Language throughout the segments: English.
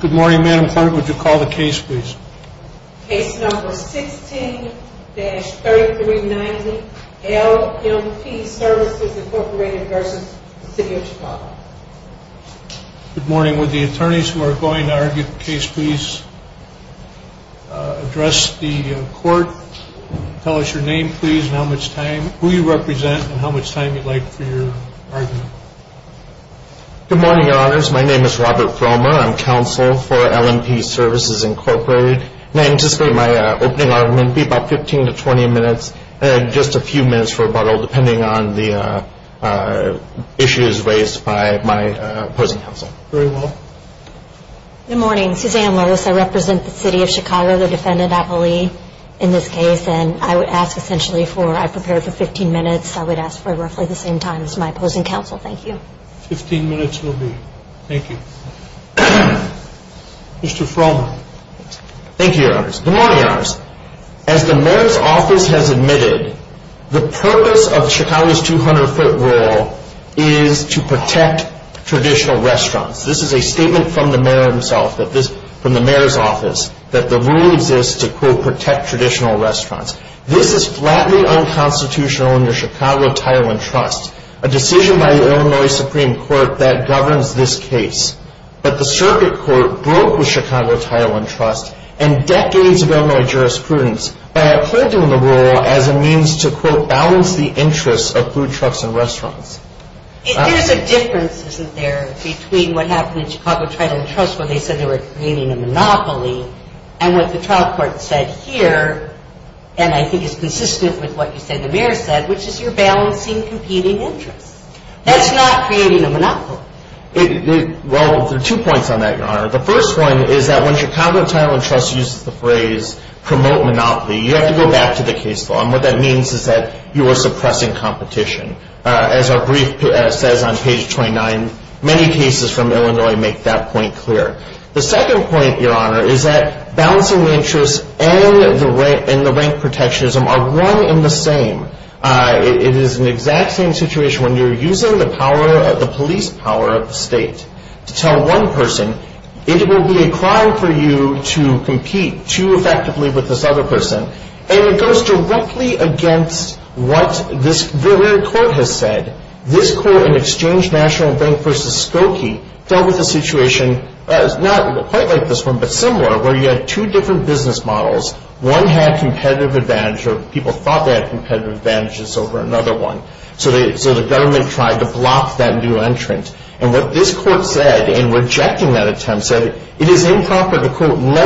Good morning, Your Honors. My name is Robert Froma. I'm Counselor for the City of Chicago, and I'd like to ask the attorneys to come up to the podium and address the court. Tell us your name, please, and who you represent, and how much time you'd like for your argument. Good morning, Your Honors. My name is Robert Froma. I'm Counselor for LMP Services, Inc., and I anticipate my opening argument to be about 15 to 20 minutes, and just a few minutes for rebuttal, depending on the issues raised by my opposing counsel. Very well. Good morning. Suzanne Lewis. I represent the City of Chicago, the defendant, Apolli, in this case, and I would ask essentially for, I prepared for 15 minutes. I would ask for roughly the same time as my opposing counsel. Thank you. Fifteen minutes will be. Thank you. Mr. Froma. Thank you, Your Honors. Good morning, Your Honors. As the mayor's office has admitted, the purpose of Chicago's 200-foot rule is to protect traditional restaurants. This is a statement from the mayor himself, from the mayor's office, that the rule exists to, quote, protect traditional restaurants. This is flatly unconstitutional under Chicago Title and Trust, a decision by the Illinois Supreme Court that governs this case. But the circuit court broke with Chicago Title and Trust and decades of Illinois jurisprudence by appointing the rule as a means to, quote, balance the interests of food trucks and restaurants. There's a difference, isn't there, between what happened in Chicago Title and Trust where they said they were creating a monopoly and what the trial court said here, and I think is consistent with what you said the mayor said, which is you're balancing competing interests. That's not creating a monopoly. Well, there are two points on that, Your Honor. The first one is that when Chicago Title and Trust uses the phrase promote monopoly, you have to go back to the case law, and what that means is that you are suppressing competition. As our brief says on page 29, many cases from Illinois make that point clear. The second point, Your Honor, is that balancing interests and the rank protectionism are one and the same. It is an exact same situation when you're using the police power of the state to tell one person it will be a crime for you to compete too effectively with this other person, and it goes directly against what this very court has said. This court in Exchange National Bank v. Skokie dealt with a situation not quite like this one but similar where you had two different business models. One had competitive advantage or people thought they had competitive advantages over another one, so the government tried to block that new entrant, and what this court said in rejecting that attempt said it is improper to, quote, In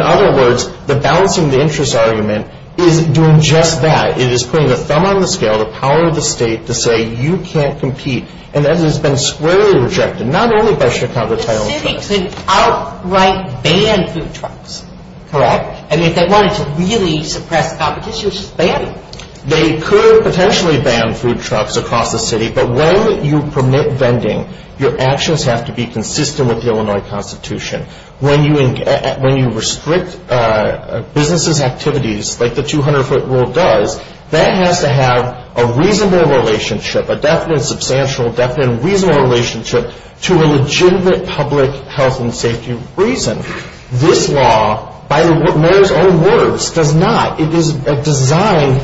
other words, the balancing the interests argument is doing just that. It is putting the thumb on the scale, the power of the state, to say you can't compete, and that has been squarely rejected, not only by Chicago Title and Trust. The city could outright ban food trucks, correct? I mean, if they wanted to really suppress competition, just ban them. They could potentially ban food trucks across the city, but when you permit vending, your actions have to be consistent with the Illinois Constitution. When you restrict businesses' activities like the 200-foot rule does, that has to have a reasonable relationship, a definite, substantial, definite, reasonable relationship to a legitimate public health and safety reason. This law, by the mayor's own words, does not. It is designed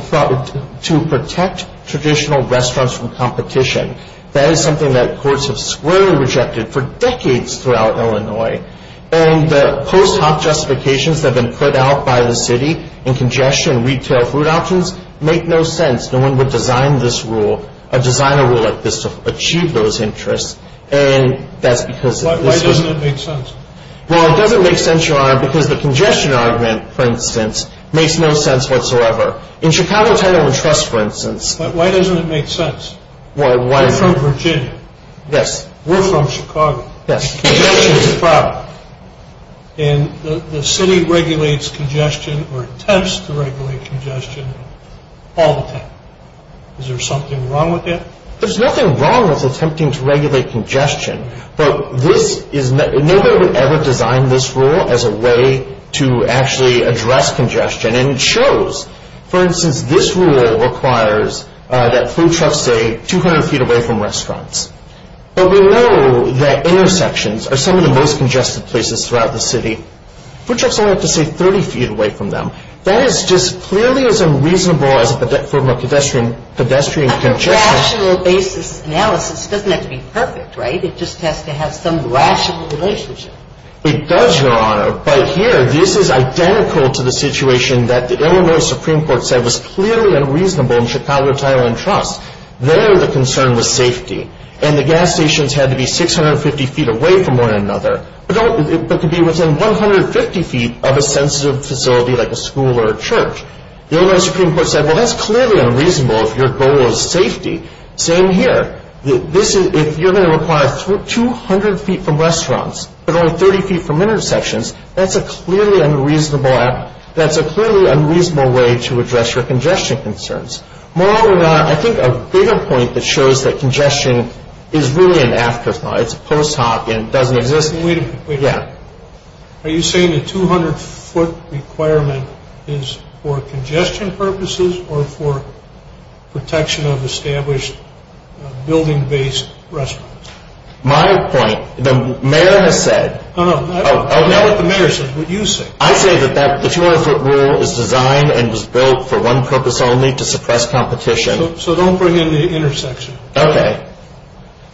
to protect traditional restaurants from competition. That is something that courts have squarely rejected for decades throughout Illinois, and the post hoc justifications that have been put out by the city in congestion and retail food options make no sense. No one would design this rule, or design a rule like this to achieve those interests, and that's because of this. Why doesn't it make sense? Well, it doesn't make sense, Your Honor, because the congestion argument, for instance, makes no sense whatsoever. In Chicago Title and Trust, for instance. But why doesn't it make sense? We're from Virginia. Yes. We're from Chicago. Yes. Congestion is a problem, and the city regulates congestion or attempts to regulate congestion all the time. Is there something wrong with that? There's nothing wrong with attempting to regulate congestion, but this is, no one would ever design this rule as a way to actually address congestion, and it shows. For instance, this rule requires that food trucks stay 200 feet away from restaurants. But we know that intersections are some of the most congested places throughout the city. Food trucks only have to stay 30 feet away from them. That is just clearly as unreasonable as pedestrian congestion. A rational basis analysis doesn't have to be perfect, right? It just has to have some rational relationship. It does, Your Honor. But here, this is identical to the situation that the Illinois Supreme Court said was clearly unreasonable in Chicago Title and Trust. There, the concern was safety, and the gas stations had to be 650 feet away from one another, but could be within 150 feet of a sensitive facility like a school or a church. The Illinois Supreme Court said, well, that's clearly unreasonable if your goal is safety. Same here. If you're going to require 200 feet from restaurants, but only 30 feet from intersections, that's a clearly unreasonable act. That's a clearly unreasonable way to address your congestion concerns. More often than not, I think a bigger point that shows that congestion is really an afterthought. It's a post hoc and doesn't exist. Wait a minute. Yeah. Are you saying the 200 foot requirement is for congestion purposes or for protection of established building-based restaurants? My point, the mayor has said. No, no, not what the mayor says, what you say. I say that the 200 foot rule is designed and was built for one purpose only, to suppress competition. So don't bring in the intersection. Okay.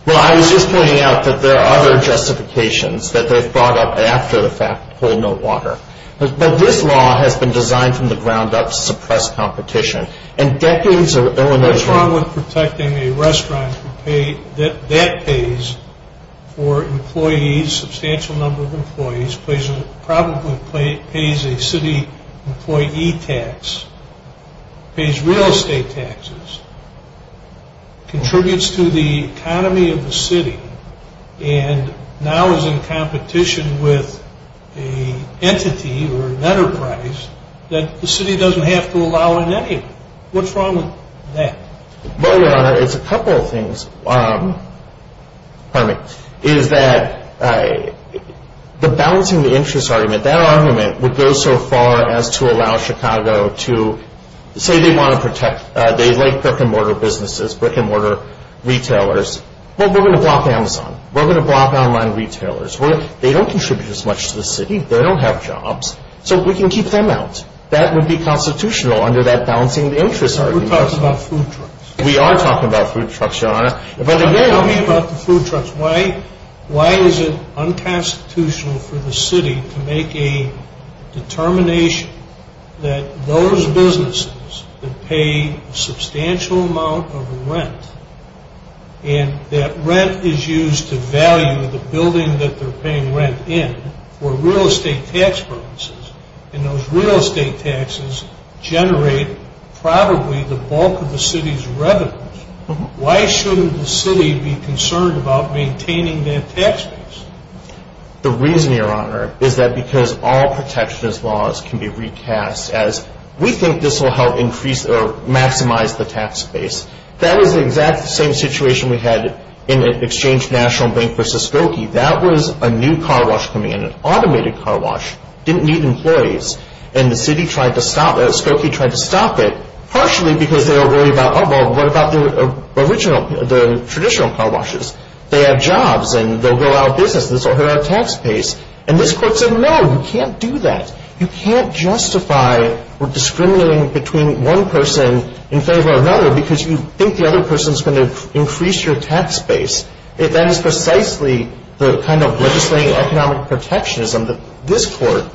Well, I was just pointing out that there are other justifications that they've brought up after the fact. Hold no water. But this law has been designed from the ground up to suppress competition. And decades of Illinois... What's wrong with protecting a restaurant that pays for employees, a substantial number of employees, probably pays a city employee tax, pays real estate taxes, contributes to the economy of the city, and now is in competition with an entity or an enterprise that the city doesn't have to allow in any of them. What's wrong with that? Well, Your Honor, it's a couple of things. Pardon me. Is that the balancing the interest argument, that argument would go so far as to allow Chicago to say they want to protect, they like brick-and-mortar businesses, brick-and-mortar retailers. Well, we're going to block Amazon. We're going to block online retailers. They don't contribute as much to the city. They don't have jobs. So we can keep them out. That would be constitutional under that balancing the interest argument. We're talking about food trucks. We are talking about food trucks, Your Honor. But again... Tell me about the food trucks. Why is it unconstitutional for the city to make a determination that those businesses that pay a substantial amount of rent and that rent is used to value the building that they're paying rent in for real estate tax purposes, and those real estate taxes generate probably the bulk of the city's revenues, why shouldn't the city be concerned about maintaining that tax base? The reason, Your Honor, is that because all protectionist laws can be recast as we think this will help increase or maximize the tax base. That was the exact same situation we had in Exchange National Bank versus Skokie. That was a new car wash coming in, an automated car wash. Didn't need employees. And Skokie tried to stop it, partially because they were worried about, oh, well, what about the traditional car washes? They have jobs, and they'll go out of business. This will hurt our tax base. And this court said, no, you can't do that. You can't justify or discriminate between one person in favor of another because you think the other person is going to increase your tax base. That is precisely the kind of legislating economic protectionism that this court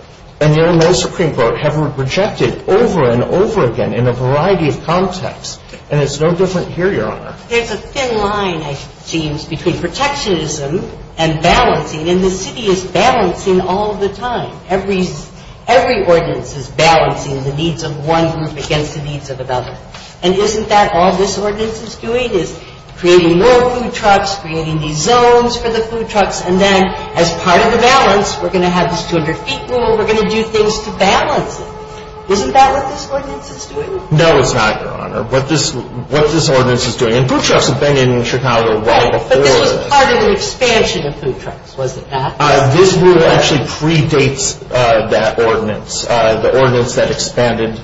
and your new Supreme Court have rejected over and over again in a variety of contexts, and it's no different here, Your Honor. There's a thin line, it seems, between protectionism and balancing, and the city is balancing all the time. Every ordinance is balancing the needs of one group against the needs of another. And isn't that all this ordinance is doing is creating more food trucks, creating these zones for the food trucks, and then as part of the balance, we're going to have this 200-feet rule, we're going to do things to balance it. Isn't that what this ordinance is doing? No, it's not, Your Honor. What this ordinance is doing, and food trucks have been in Chicago long before. Right, but this was part of the expansion of food trucks, was it not? This rule actually predates that ordinance, the ordinance that expanded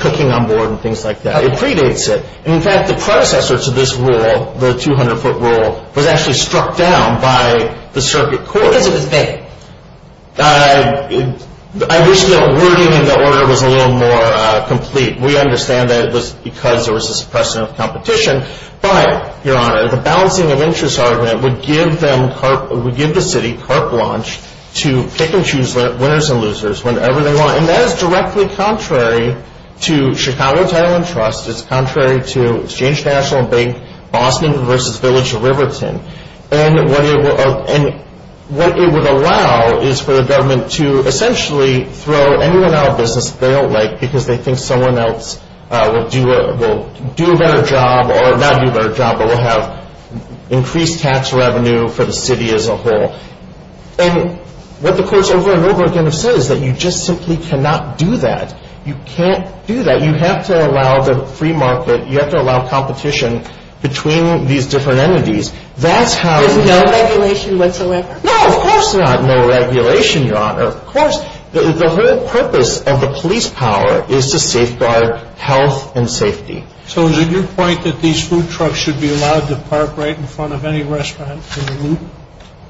cooking on board and things like that. It predates it. In fact, the predecessor to this rule, the 200-foot rule, was actually struck down by the circuit court. Because it was big. I wish that wording in the order was a little more complete. We understand that it was because there was a suppression of competition, but, Your Honor, the balancing of interests ordinance would give the city carp launch to pick and choose winners and losers whenever they want, and that is directly contrary to Chicago Title and Trust. It's contrary to Exchange National Bank Boston versus Village of Riverton. And what it would allow is for the government to essentially throw anyone out of business they don't like because they think someone else will do a better job, or not do a better job, but will have increased tax revenue for the city as a whole. And what the courts over and over again have said is that you just simply cannot do that. You can't do that. You have to allow the free market. You have to allow competition between these different entities. There's no regulation whatsoever? No, of course not no regulation, Your Honor. Of course. The whole purpose of the police power is to safeguard health and safety. So is it your point that these food trucks should be allowed to park right in front of any restaurant?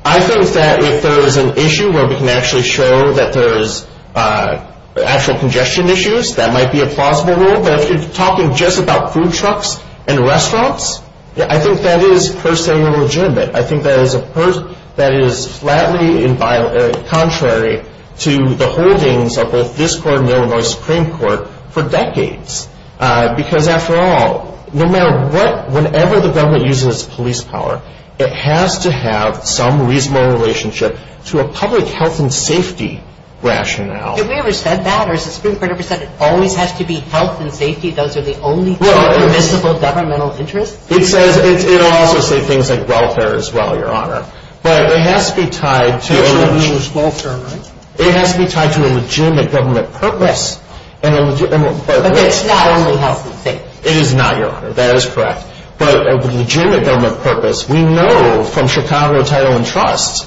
I think that if there is an issue where we can actually show that there is actual congestion issues, that might be a plausible rule, but if you're talking just about food trucks and restaurants, I think that is per se illegitimate. I think that is flatly contrary to the holdings of both this court and Illinois Supreme Court for decades. Because after all, no matter what, whenever the government uses police power, it has to have some reasonable relationship to a public health and safety rationale. Have we ever said that? Or has the Supreme Court ever said it always has to be health and safety? Those are the only permissible governmental interests? It also says things like welfare as well, Your Honor. But it has to be tied to a legitimate government purpose. But it's not only health and safety. It is not, Your Honor. That is correct. But a legitimate government purpose, we know from Chicago Title and Trusts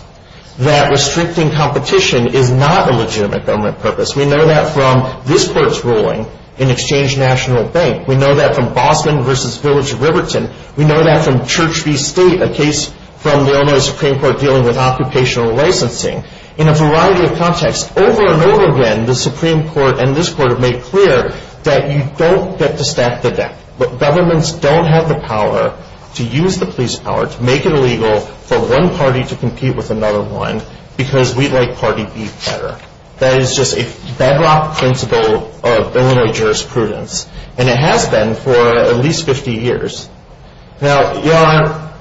that restricting competition is not a legitimate government purpose. We know that from this court's ruling in Exchange National Bank. We know that from Boston v. Village of Riverton. We know that from Church v. State, a case from the Illinois Supreme Court dealing with occupational licensing. In a variety of contexts, over and over again, the Supreme Court and this court have made clear that you don't get to stack the deck. Governments don't have the power to use the police power to make it illegal for one party to compete with another one because we'd like party B better. That is just a bedrock principle of Illinois jurisprudence. And it has been for at least 50 years. Now, Your Honor.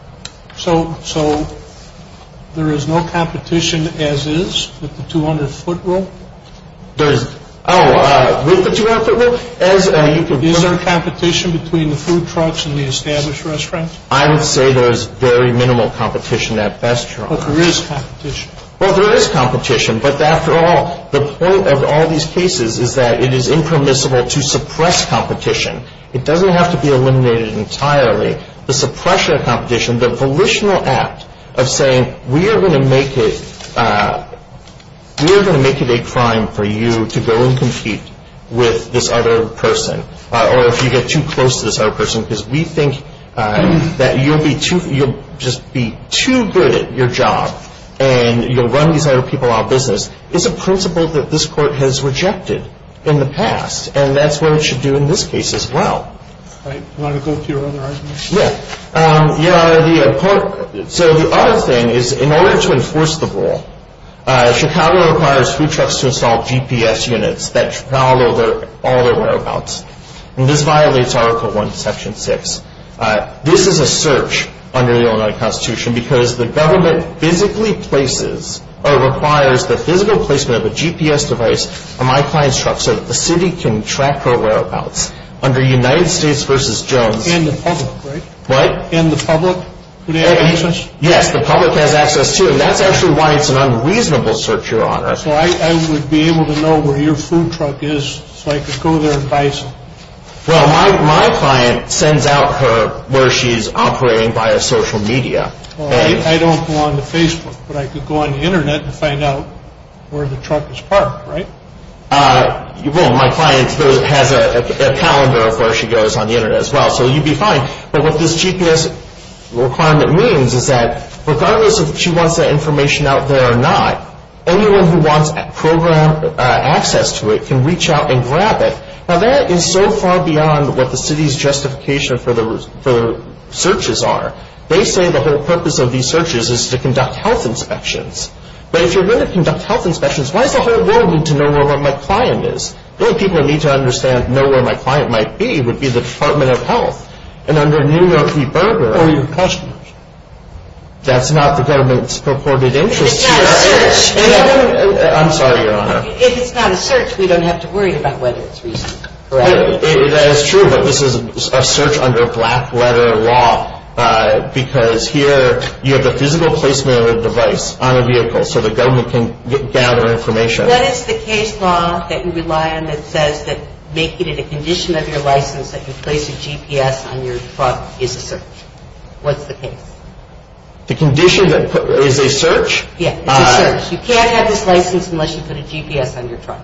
So there is no competition as is with the 200-foot rule? Oh, with the 200-foot rule? Is there competition between the food trucks and the established restaurants? I would say there is very minimal competition at best, Your Honor. But there is competition. Well, there is competition. But after all, the point of all these cases is that it is impermissible to suppress competition. It doesn't have to be eliminated entirely. The suppression of competition, the volitional act of saying we are going to make it a crime for you to go and compete with this other person or if you get too close to this other person because we think that you'll just be too good at your job and you'll run these other people out of business is a principle that this court has rejected in the past, and that's what it should do in this case as well. All right. Do you want to go to your other argument? Yes. Your Honor, so the other thing is in order to enforce the rule, Chicago requires food trucks to install GPS units that travel over all their whereabouts. And this violates Article I, Section 6. This is a search under the Illinois Constitution because the government physically places or requires the physical placement of a GPS device on my client's truck so that the city can track her whereabouts. Under United States v. Jones. And the public, right? What? And the public? Yes, the public has access, too. And that's actually why it's an unreasonable search, Your Honor. So I would be able to know where your food truck is so I could go there and buy some. Well, my client sends out her where she's operating via social media. I don't go on to Facebook, but I could go on the Internet and find out where the truck is parked, right? Well, my client has a calendar of where she goes on the Internet as well, so you'd be fine. But what this GPS requirement means is that regardless if she wants that information out there or not, anyone who wants access to it can reach out and grab it. Now, that is so far beyond what the city's justification for the searches are. They say the whole purpose of these searches is to conduct health inspections. But if you're going to conduct health inspections, why does the whole world need to know where my client is? The only people who need to understand and know where my client might be would be the Department of Health. And under New York v. Berger. Or your customers. That's not the government's purported interest here. If it's not a search. I'm sorry, Your Honor. If it's not a search, we don't have to worry about whether it's reasonable. That is true, but this is a search under black-letter law, because here you have the physical placement of a device on a vehicle so the government can gather information. What is the case law that you rely on that says that making it a condition of your license that you place a GPS on your truck is a search? What's the case? The condition that is a search? Yeah, it's a search. You can't have this license unless you put a GPS on your truck.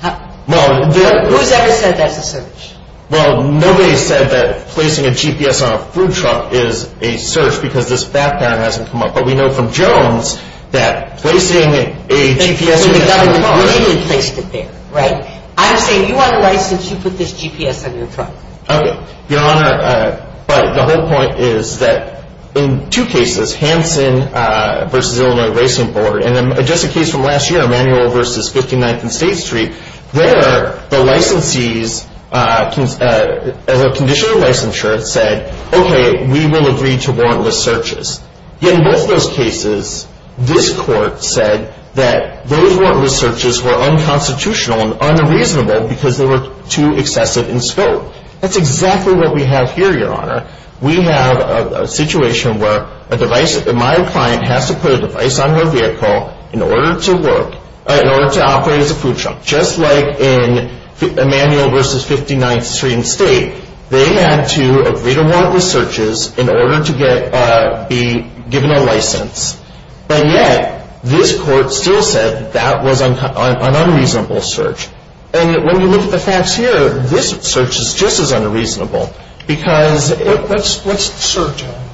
Who's ever said that's a search? Well, nobody said that placing a GPS on a food truck is a search because this background hasn't come up. But we know from Jones that placing a GPS on a food truck. The government really placed it there, right? I'm saying you want a license, you put this GPS on your truck. Okay, Your Honor. But the whole point is that in two cases, Hanson v. Illinois Racing Board, and just a case from last year, Emanuel v. 59th and State Street, there the licensees, as a condition of licensure, said, okay, we will agree to warrantless searches. Yet in both those cases, this court said that those warrantless searches were unconstitutional and unreasonable because they were too excessive in scope. That's exactly what we have here, Your Honor. We have a situation where my client has to put a device on their vehicle in order to work, in order to operate as a food truck, just like in Emanuel v. 59th Street and State. They had to agree to warrantless searches in order to be given a license. And yet, this court still said that was an unreasonable search. And when you look at the facts here, this search is just as unreasonable. What's the search on?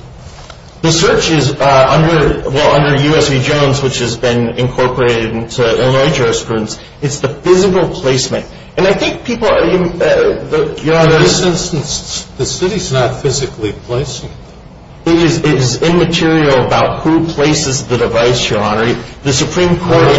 The search is under U.S. v. Jones, which has been incorporated into Illinois jurisprudence. It's the physical placement. In this instance, the city is not physically placing it. It is immaterial about who places the device, Your Honor. On what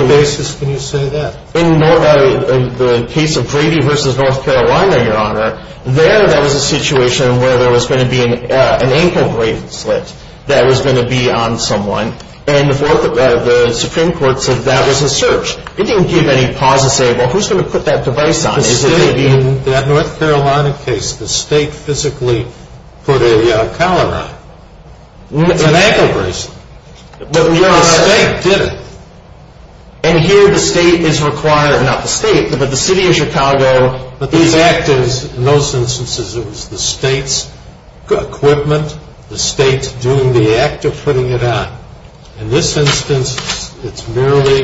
basis can you say that? In the case of Grady v. North Carolina, Your Honor, there there was a situation where there was going to be an ankle bracelet that was going to be on someone. And the Supreme Court said that was a search. It didn't give any pause to say, well, who's going to put that device on? Instead, in that North Carolina case, the state physically put a collar on. It's an ankle bracelet. The state did it. And here the state is required, not the state, but the city of Chicago is active. In those instances, it was the state's equipment, the state doing the act of putting it on. In this instance, it's merely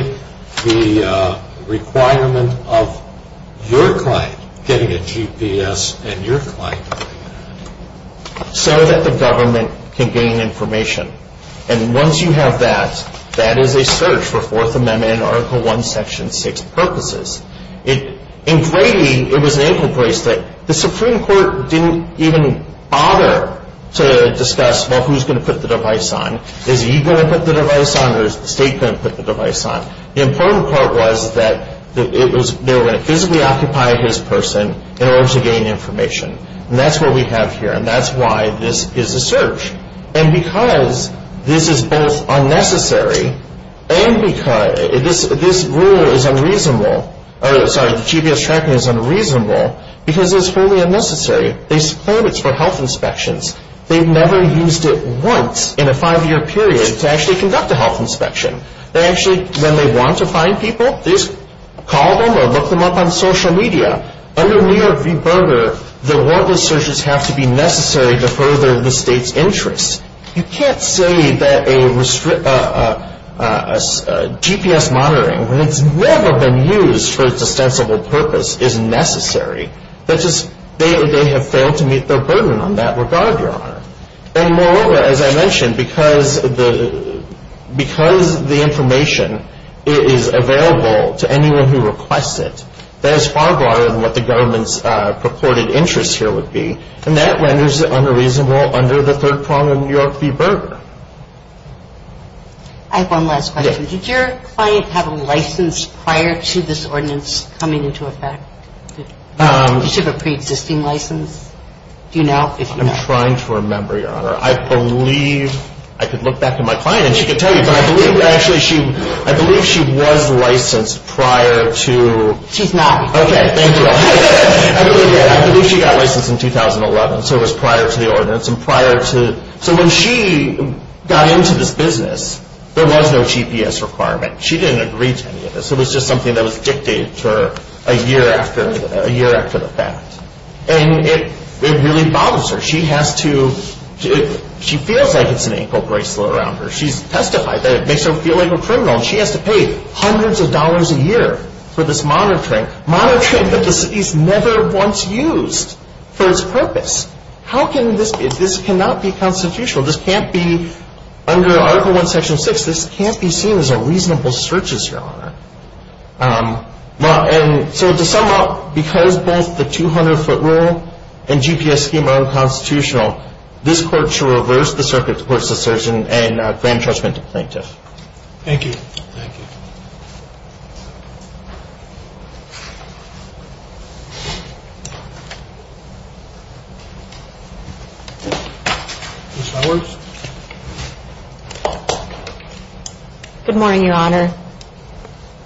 the requirement of your client getting a GPS and your client getting an app. So that the government can gain information. And once you have that, that is a search for Fourth Amendment and Article I, Section 6 purposes. In Grady, it was an ankle bracelet. The Supreme Court didn't even bother to discuss, well, who's going to put the device on? Is he going to put the device on or is the state going to put the device on? The important part was that they were going to physically occupy his person in order to gain information. And that's what we have here. And that's why this is a search. And because this is both unnecessary and because this rule is unreasonable, sorry, the GPS tracking is unreasonable because it's wholly unnecessary. They claim it's for health inspections. They've never used it once in a five-year period to actually conduct a health inspection. They actually, when they want to find people, they just call them or look them up on social media. Under New York v. Berger, the warrantless searches have to be necessary to further the state's interests. You can't say that a GPS monitoring, when it's never been used for its ostensible purpose, is necessary. They have failed to meet their burden on that regard, Your Honor. And moreover, as I mentioned, because the information is available to anyone who requests it, that is far broader than what the government's purported interests here would be. And that renders it unreasonable under the third prong of New York v. Berger. I have one last question. Did your client have a license prior to this ordinance coming into effect? Did she have a preexisting license? Do you know? I'm trying to remember, Your Honor. I believe, I could look back at my client and she could tell you, but I believe that actually she, I believe she was licensed prior to. She's not. Okay, thank you. I believe that. I believe she got licensed in 2011, so it was prior to the ordinance and prior to. So when she got into this business, there was no GPS requirement. She didn't agree to any of this. It was just something that was dictated to her a year after the fact. And it really bothers her. She has to, she feels like it's an ankle bracelet around her. She's testified that it makes her feel like a criminal. She has to pay hundreds of dollars a year for this monitoring, monitoring that this is never once used for its purpose. How can this be? This cannot be constitutional. This can't be under Article I, Section 6. This can't be seen as a reasonable search, Your Honor. And so to sum up, because both the 200-foot rule and GPS scheme are unconstitutional, this Court shall reverse the Circuit's court's assertion and grant entrenchment to plaintiff. Thank you. Thank you. Ms. Lowers. Good morning, Your Honor.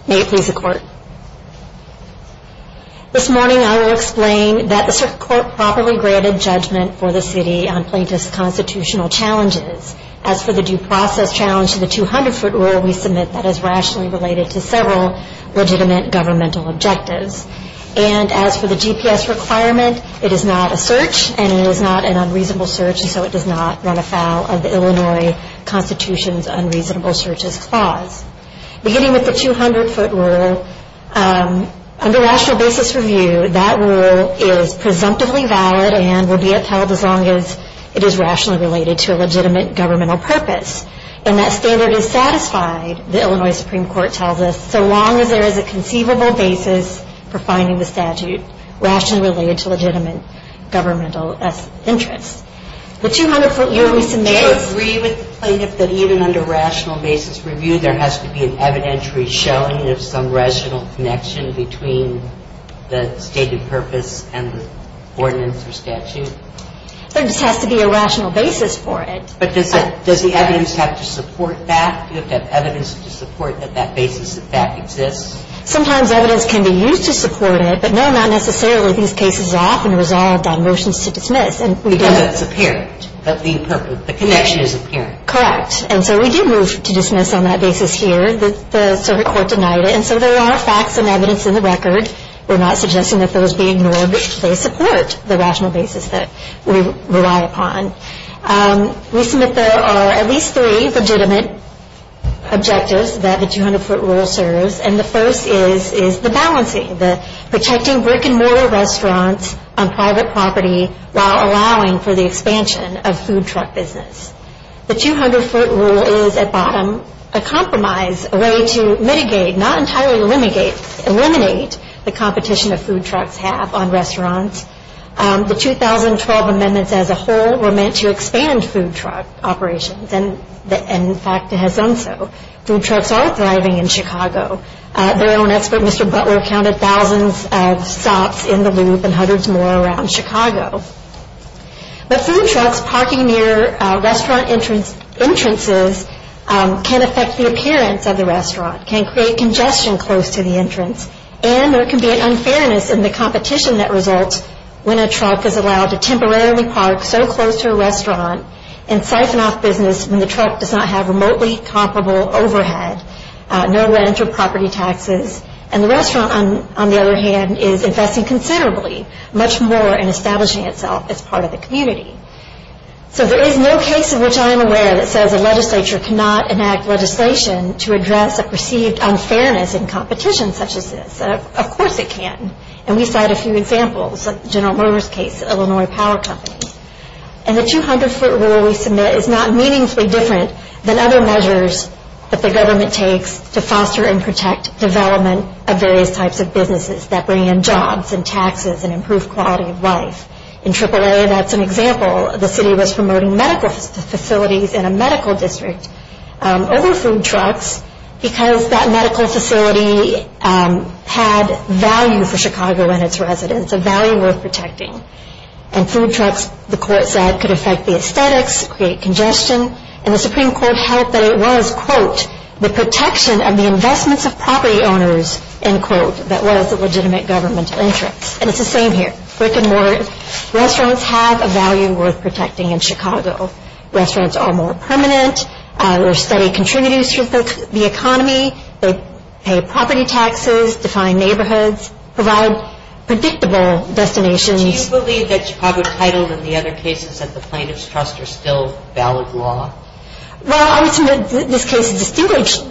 May it please the Court. This morning I will explain that the Circuit Court properly granted judgment for the city on plaintiff's constitutional challenges. As for the due process challenge to the 200-foot rule, we submit that is rationally related to several legitimate governmental objectives. And as for the GPS requirement, it is not a search and it is not an unreasonable search, and so it does not run afoul of the Illinois Constitution's unreasonable searches clause. Beginning with the 200-foot rule, under rational basis review, that rule is presumptively valid and will be upheld as long as it is rationally related to a legitimate governmental purpose. And that standard is satisfied, the Illinois Supreme Court tells us, so long as there is a conceivable basis for finding the statute rationally related to legitimate governmental interests. The 200-foot rule we submit is… Do you agree with the plaintiff that even under rational basis review, there has to be an evidentiary showing of some rational connection between the stated purpose and the ordinance or statute? There just has to be a rational basis for it. But does the evidence have to support that? Do you have to have evidence to support that that basis in fact exists? Sometimes evidence can be used to support it. But no, not necessarily. These cases are often resolved on motions to dismiss. Because it's apparent that the connection is apparent. Correct. And so we did move to dismiss on that basis here. The circuit court denied it. And so there are facts and evidence in the record. We're not suggesting that those be ignored. They support the rational basis that we rely upon. We submit there are at least three legitimate objectives that the 200-foot rule serves. And the first is the balancing, the protecting brick-and-mortar restaurants on private property while allowing for the expansion of food truck business. The 200-foot rule is, at bottom, a compromise, a way to mitigate, not entirely eliminate, the competition that food trucks have on restaurants. The 2012 amendments as a whole were meant to expand food truck operations. And, in fact, it has done so. Food trucks are thriving in Chicago. Their own expert, Mr. Butler, counted thousands of stops in the loop and hundreds more around Chicago. But food trucks parking near restaurant entrances can affect the appearance of the restaurant, can create congestion close to the entrance, and there can be an unfairness in the competition that results when a truck is allowed to temporarily park so close to a restaurant and siphon off business when the truck does not have remotely comparable overhead, no rent or property taxes. And the restaurant, on the other hand, is investing considerably much more in establishing itself as part of the community. So there is no case of which I am aware that says a legislature cannot enact legislation to address a perceived unfairness in competition such as this. Of course it can. And we cite a few examples, like General Motors' case, Illinois Power Company. And the 200-foot rule we submit is not meaningfully different than other measures that the government takes to foster and protect development of various types of businesses that bring in jobs and taxes and improve quality of life. In AAA, that's an example. The city was promoting medical facilities in a medical district. Other food trucks, because that medical facility had value for Chicago and its residents, a value worth protecting. And food trucks, the court said, could affect the aesthetics, create congestion. And the Supreme Court held that it was, quote, the protection of the investments of property owners, end quote, that was the legitimate government interest. And it's the same here. Brick and mortar restaurants have a value worth protecting in Chicago. Restaurants are more permanent. There are steady contributors to the economy. They pay property taxes, define neighborhoods, provide predictable destinations. Do you believe that Chicago Title and the other cases at the Plaintiff's Trust are still valid law? Well, I would say that this case is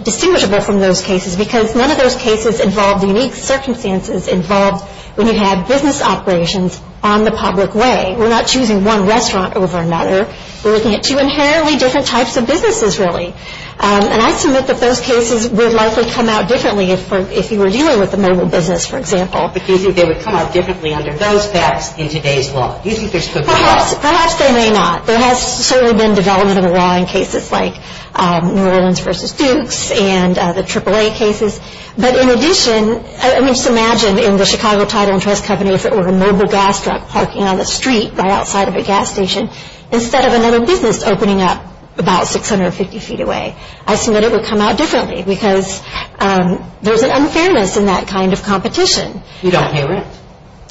distinguishable from those cases because none of those cases involve the unique circumstances involved when you have business operations on the public way. We're not choosing one restaurant over another. We're looking at two inherently different types of businesses, really. And I submit that those cases would likely come out differently if you were dealing with the mobile business, for example. But do you think they would come out differently under those facts in today's law? Perhaps they may not. There has certainly been development of the law in cases like New Orleans v. Dukes and the AAA cases. But in addition, I mean, just imagine in the Chicago Title and Trust Company, if it were a mobile gas truck parking on the street right outside of a gas station instead of another business opening up about 650 feet away. I submit it would come out differently because there's an unfairness in that kind of competition. You don't pay rent.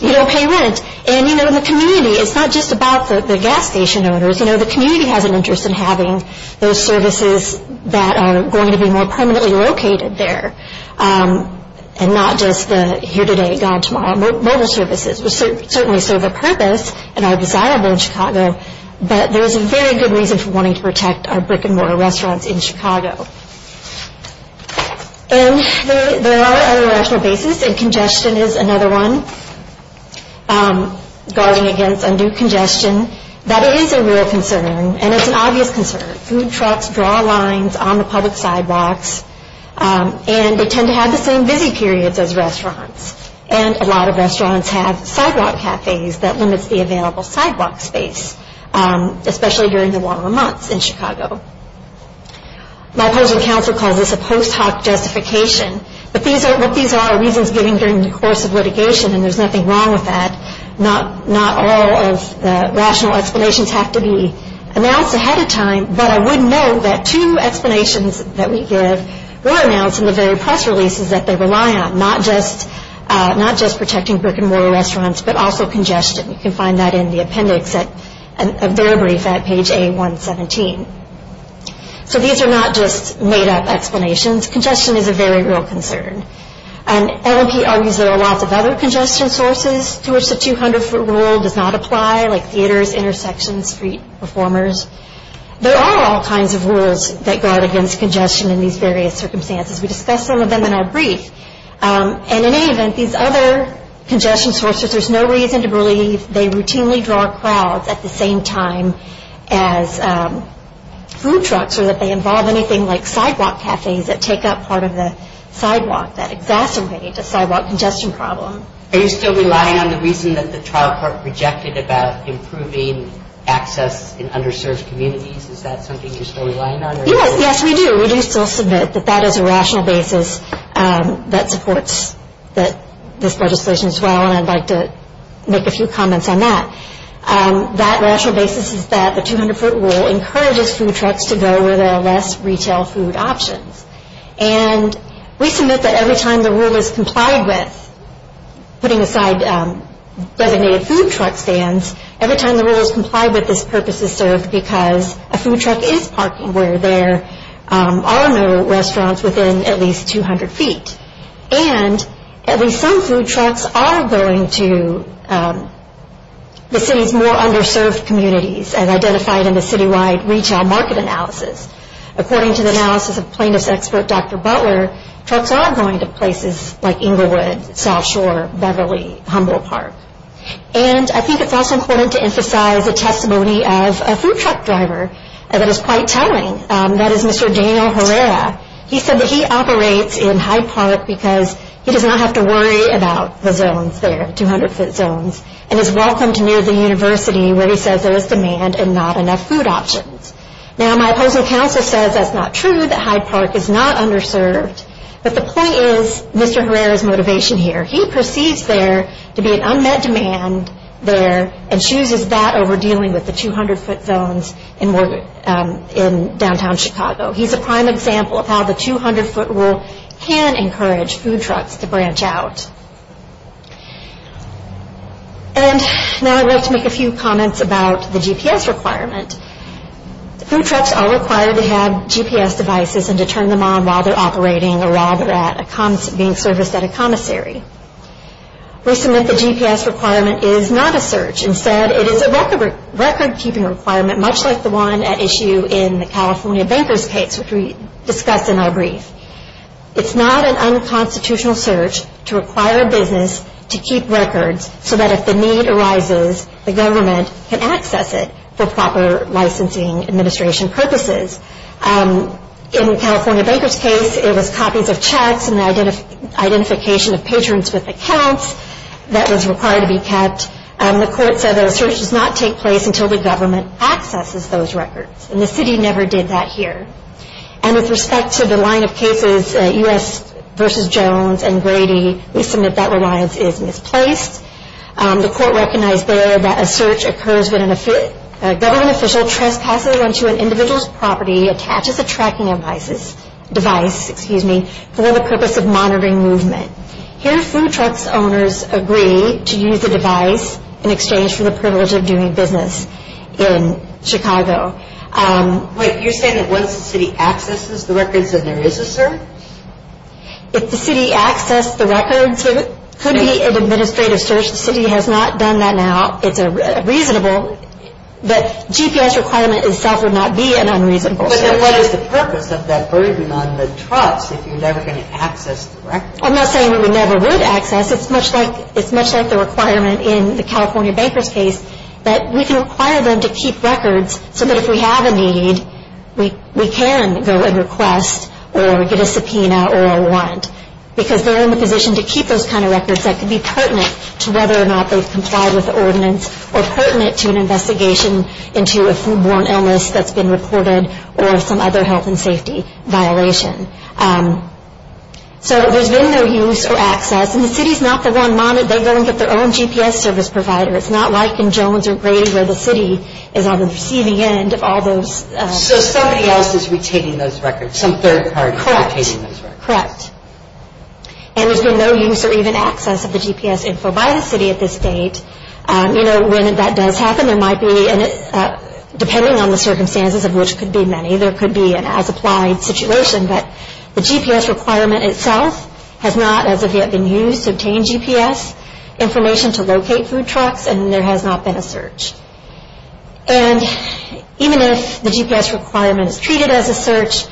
You don't pay rent. And, you know, in the community, it's not just about the gas station owners. You know, the community has an interest in having those services that are going to be more permanently located there and not just the here-today, gone-tomorrow mobile services, which certainly serve a purpose and are desirable in Chicago. But there's a very good reason for wanting to protect our brick-and-mortar restaurants in Chicago. And there are other rational bases, and congestion is another one. Guarding against undue congestion, that is a real concern, and it's an obvious concern. Food trucks draw lines on the public sidewalks. And they tend to have the same busy periods as restaurants. And a lot of restaurants have sidewalk cafes. That limits the available sidewalk space, especially during the warmer months in Chicago. My opposing counsel calls this a post hoc justification. But what these are are reasons given during the course of litigation, and there's nothing wrong with that. But I would note that two explanations that we give were announced in the very press releases that they rely on, not just protecting brick-and-mortar restaurants, but also congestion. You can find that in the appendix, a very brief, at page A117. So these are not just made-up explanations. Congestion is a very real concern. And LMP argues there are lots of other congestion sources to which the 200-foot rule does not apply, like theaters, intersections, street performers. There are all kinds of rules that guard against congestion in these various circumstances. We discussed some of them in our brief. And in any event, these other congestion sources, there's no reason to believe they routinely draw crowds at the same time as food trucks or that they involve anything like sidewalk cafes that take up part of the sidewalk that exacerbates a sidewalk congestion problem. Are you still relying on the reason that the trial court rejected about improving access in underserved communities? Is that something you're still relying on? Yes, yes, we do. We do still submit that that is a rational basis that supports this legislation as well. And I'd like to make a few comments on that. That rational basis is that the 200-foot rule encourages food trucks to go where there are less retail food options. And we submit that every time the rule is complied with, putting aside designated food truck stands, every time the rule is complied with, this purpose is served because a food truck is parking where there are no restaurants within at least 200 feet. And at least some food trucks are going to the city's more underserved communities as identified in the citywide retail market analysis. According to the analysis of plaintiff's expert, Dr. Butler, trucks are going to places like Inglewood, South Shore, Beverly, Humboldt Park. And I think it's also important to emphasize the testimony of a food truck driver that is quite telling. That is Mr. Daniel Herrera. He said that he operates in Hyde Park because he does not have to worry about the zones there, 200-foot zones, and is welcome to near the university where he says there is demand and not enough food options. Now, my opposing counsel says that's not true, that Hyde Park is not underserved. But the point is Mr. Herrera's motivation here. He perceives there to be an unmet demand there and chooses that over dealing with the 200-foot zones in downtown Chicago. He's a prime example of how the 200-foot rule can encourage food trucks to branch out. And now I'd like to make a few comments about the GPS requirement. Food trucks are required to have GPS devices and to turn them on while they're operating or while they're being serviced at a commissary. We submit the GPS requirement is not a search. Instead, it is a record-keeping requirement, much like the one at issue in the California Banker's case, which we discussed in our brief. It's not an unconstitutional search to require a business to keep records so that if the need arises, the government can access it for proper licensing administration purposes. In the California Banker's case, it was copies of checks and identification of patrons with accounts that was required to be kept. The court said the search does not take place until the government accesses those records, and the city never did that here. And with respect to the line of cases, U.S. v. Jones and Grady, we submit that reliance is misplaced. The court recognized there that a search occurs when a government official trespasses onto an individual's property, attaches a tracking device for the purpose of monitoring movement. Here, food trucks owners agree to use the device in exchange for the privilege of doing business in Chicago. But you're saying that once the city accesses the records, then there is a search? If the city accessed the records, it could be an administrative search. The city has not done that now. It's reasonable, but GPS requirement itself would not be an unreasonable search. But then what is the purpose of that burden on the trucks if you're never going to access the records? I'm not saying we never would access. It's much like the requirement in the California Banker's case that we can require them to keep records so that if we have a need, we can go and request or get a subpoena or a want because they're in a position to keep those kind of records that could be pertinent to whether or not they've complied with the ordinance or pertinent to an investigation into a foodborne illness that's been reported or some other health and safety violation. So there's been no use or access, and the city's not the one monitoring. They go and get their own GPS service provider. It's not like in Jones or Grady where the city is on the receiving end of all those. So somebody else is retaining those records. Some third party is retaining those records. Correct. And there's been no use or even access of the GPS info by the city at this date. You know, when that does happen, there might be, depending on the circumstances of which could be many, there could be an as-applied situation. But the GPS requirement itself has not as of yet been used to obtain GPS information to locate food trucks, and there has not been a search. And even if the GPS requirement is treated as a search,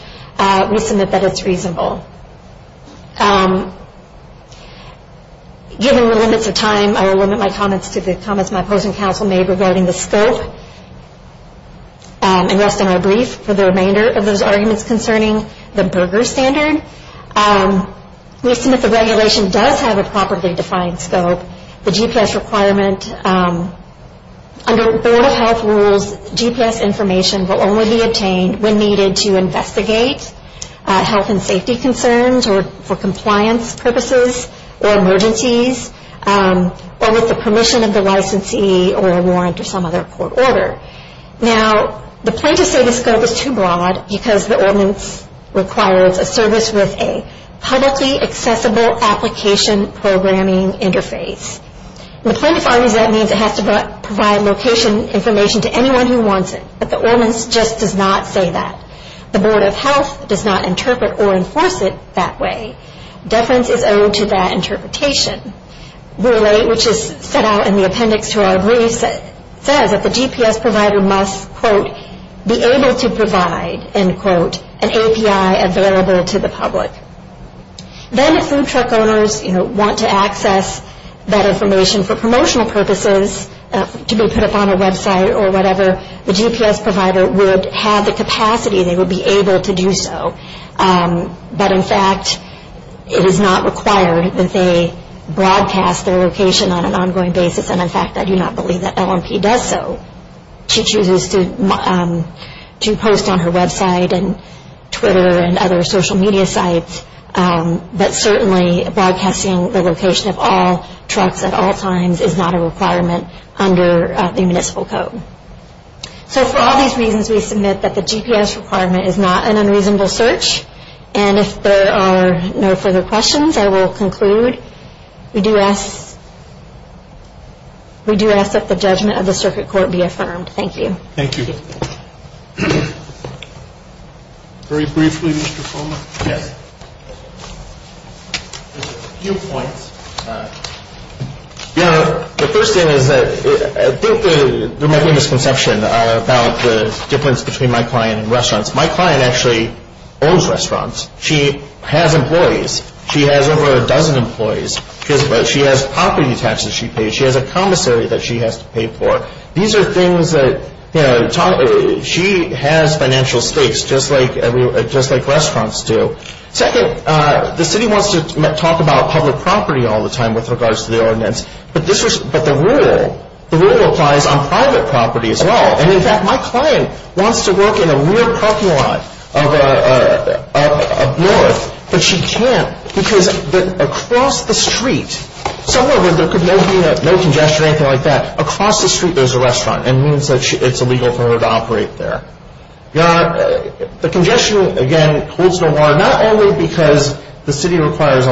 we submit that it's reasonable. Given the limits of time, I will limit my comments to the comments my opposing counsel made regarding the scope and rest in our brief for the remainder of those arguments concerning the burger standard. We assume that the regulation does have a properly defined scope. The GPS requirement, under Board of Health rules, GPS information will only be obtained when needed to investigate health and safety concerns or for compliance purposes or emergencies or with the permission of the licensee or a warrant or some other court order. Now, the plaintiffs say the scope is too broad because the ordinance requires a service with a publicly accessible application programming interface. In the plaintiff's argument, that means it has to provide location information to anyone who wants it, but the ordinance just does not say that. The Board of Health does not interpret or enforce it that way. Deference is owed to that interpretation. Rule 8, which is set out in the appendix to our brief, says that the GPS provider must, quote, be able to provide, end quote, an API available to the public. Then if food truck owners, you know, want to access that information for promotional purposes to be put up on a website or whatever, the GPS provider would have the capacity, they would be able to do so. But in fact, it is not required that they broadcast their location on an ongoing basis, and in fact, I do not believe that LMP does so. She chooses to post on her website and Twitter and other social media sites, but certainly broadcasting the location of all trucks at all times is not a requirement under the municipal code. So for all these reasons, we submit that the GPS requirement is not an unreasonable search, and if there are no further questions, I will conclude. All right. We do ask that the judgment of the circuit court be affirmed. Thank you. Thank you. Very briefly, Mr. Fulmer? Yes. A few points. The first thing is that I think there might be a misconception about the difference between my client and restaurants. My client actually owns restaurants. She has employees. She has over a dozen employees. She has property taxes she pays. She has a commissary that she has to pay for. These are things that, you know, she has financial stakes just like restaurants do. Second, the city wants to talk about public property all the time with regards to the ordinance, but the rule applies on private property as well. And, in fact, my client wants to work in a weird parking lot up north, but she can't because across the street, somewhere where there could be no congestion or anything like that, across the street there's a restaurant and it means that it's illegal for her to operate there. The congestion, again, holds no more, not only because the city requires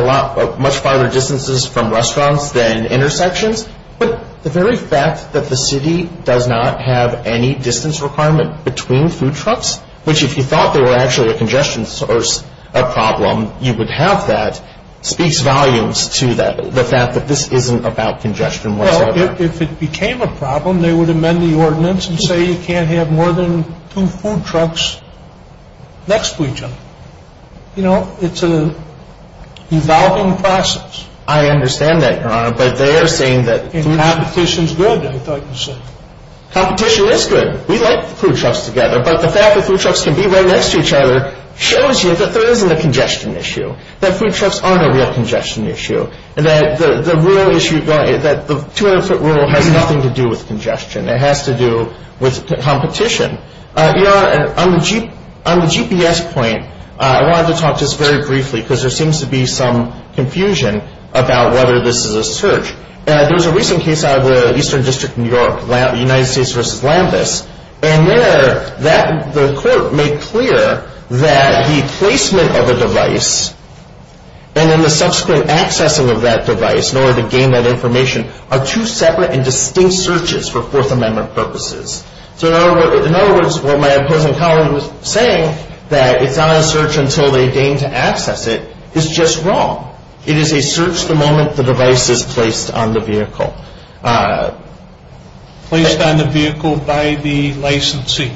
much farther distances from restaurants than intersections, but the very fact that the city does not have any distance requirement between food trucks, which if you thought there were actually a congestion source problem, you would have that, speaks volumes to the fact that this isn't about congestion whatsoever. Well, if it became a problem, they would amend the ordinance and say you can't have more than two food trucks next to each other. You know, it's an evolving process. I understand that, Your Honor, but they are saying that- And competition's good, I thought you said. Competition is good. We like food trucks together, but the fact that food trucks can be right next to each other shows you that there isn't a congestion issue, that food trucks aren't a real congestion issue, and that the 200-foot rule has nothing to do with congestion. It has to do with competition. Your Honor, on the GPS point, I wanted to talk just very briefly, because there seems to be some confusion about whether this is a search. There was a recent case out of the Eastern District of New York, United States v. Lambus, and there the court made clear that the placement of a device and then the subsequent accessing of that device in order to gain that information are two separate and distinct searches for Fourth Amendment purposes. So in other words, what my opposing counselor was saying, that it's not a search until they gain to access it, is just wrong. It is a search the moment the device is placed on the vehicle. Placed on the vehicle by the licensee.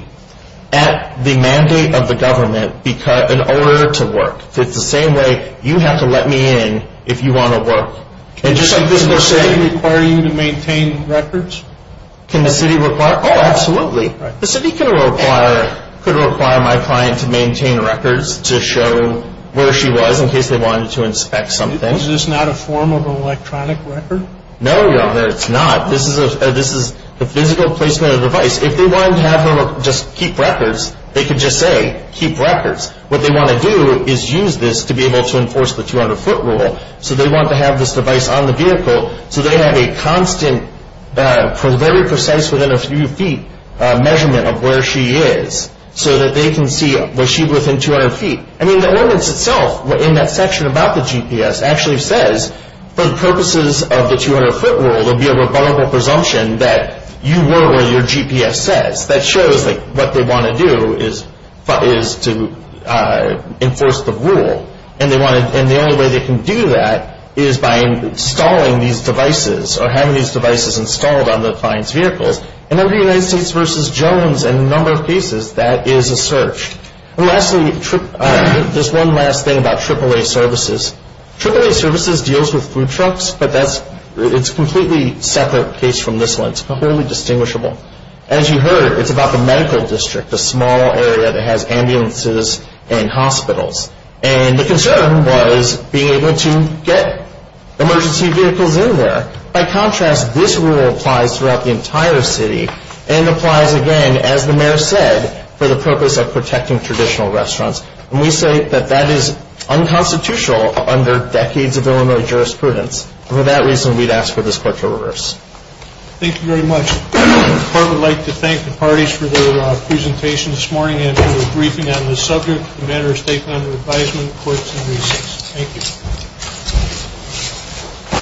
At the mandate of the government in order to work. It's the same way, you have to let me in if you want to work. Can the city require you to maintain records? Can the city require? Oh, absolutely. The city could require my client to maintain records to show where she was in case they wanted to inspect something. Is this not a form of an electronic record? No, Your Honor, it's not. This is the physical placement of the device. If they wanted to have her just keep records, they could just say, keep records. What they want to do is use this to be able to enforce the 200-foot rule. So they want to have this device on the vehicle so they have a constant, very precise, within a few feet measurement of where she is. So that they can see, was she within 200 feet? I mean, the ordinance itself in that section about the GPS actually says, for the purposes of the 200-foot rule, there will be a rebuttable presumption that you were where your GPS says. That shows what they want to do is to enforce the rule. And the only way they can do that is by installing these devices or having these devices installed on the client's vehicles. And under the United States v. Jones and a number of cases, that is a search. And lastly, there's one last thing about AAA services. AAA services deals with food trucks, but it's a completely separate case from this one. It's completely distinguishable. As you heard, it's about the medical district, a small area that has ambulances and hospitals. And the concern was being able to get emergency vehicles in there. By contrast, this rule applies throughout the entire city. And applies, again, as the mayor said, for the purpose of protecting traditional restaurants. And we say that that is unconstitutional under decades of Illinois jurisprudence. And for that reason, we'd ask for this court to reverse. Thank you very much. The court would like to thank the parties for their presentation this morning and for their briefing on this subject. The matter is taken under advisement of the courts in recess. Thank you.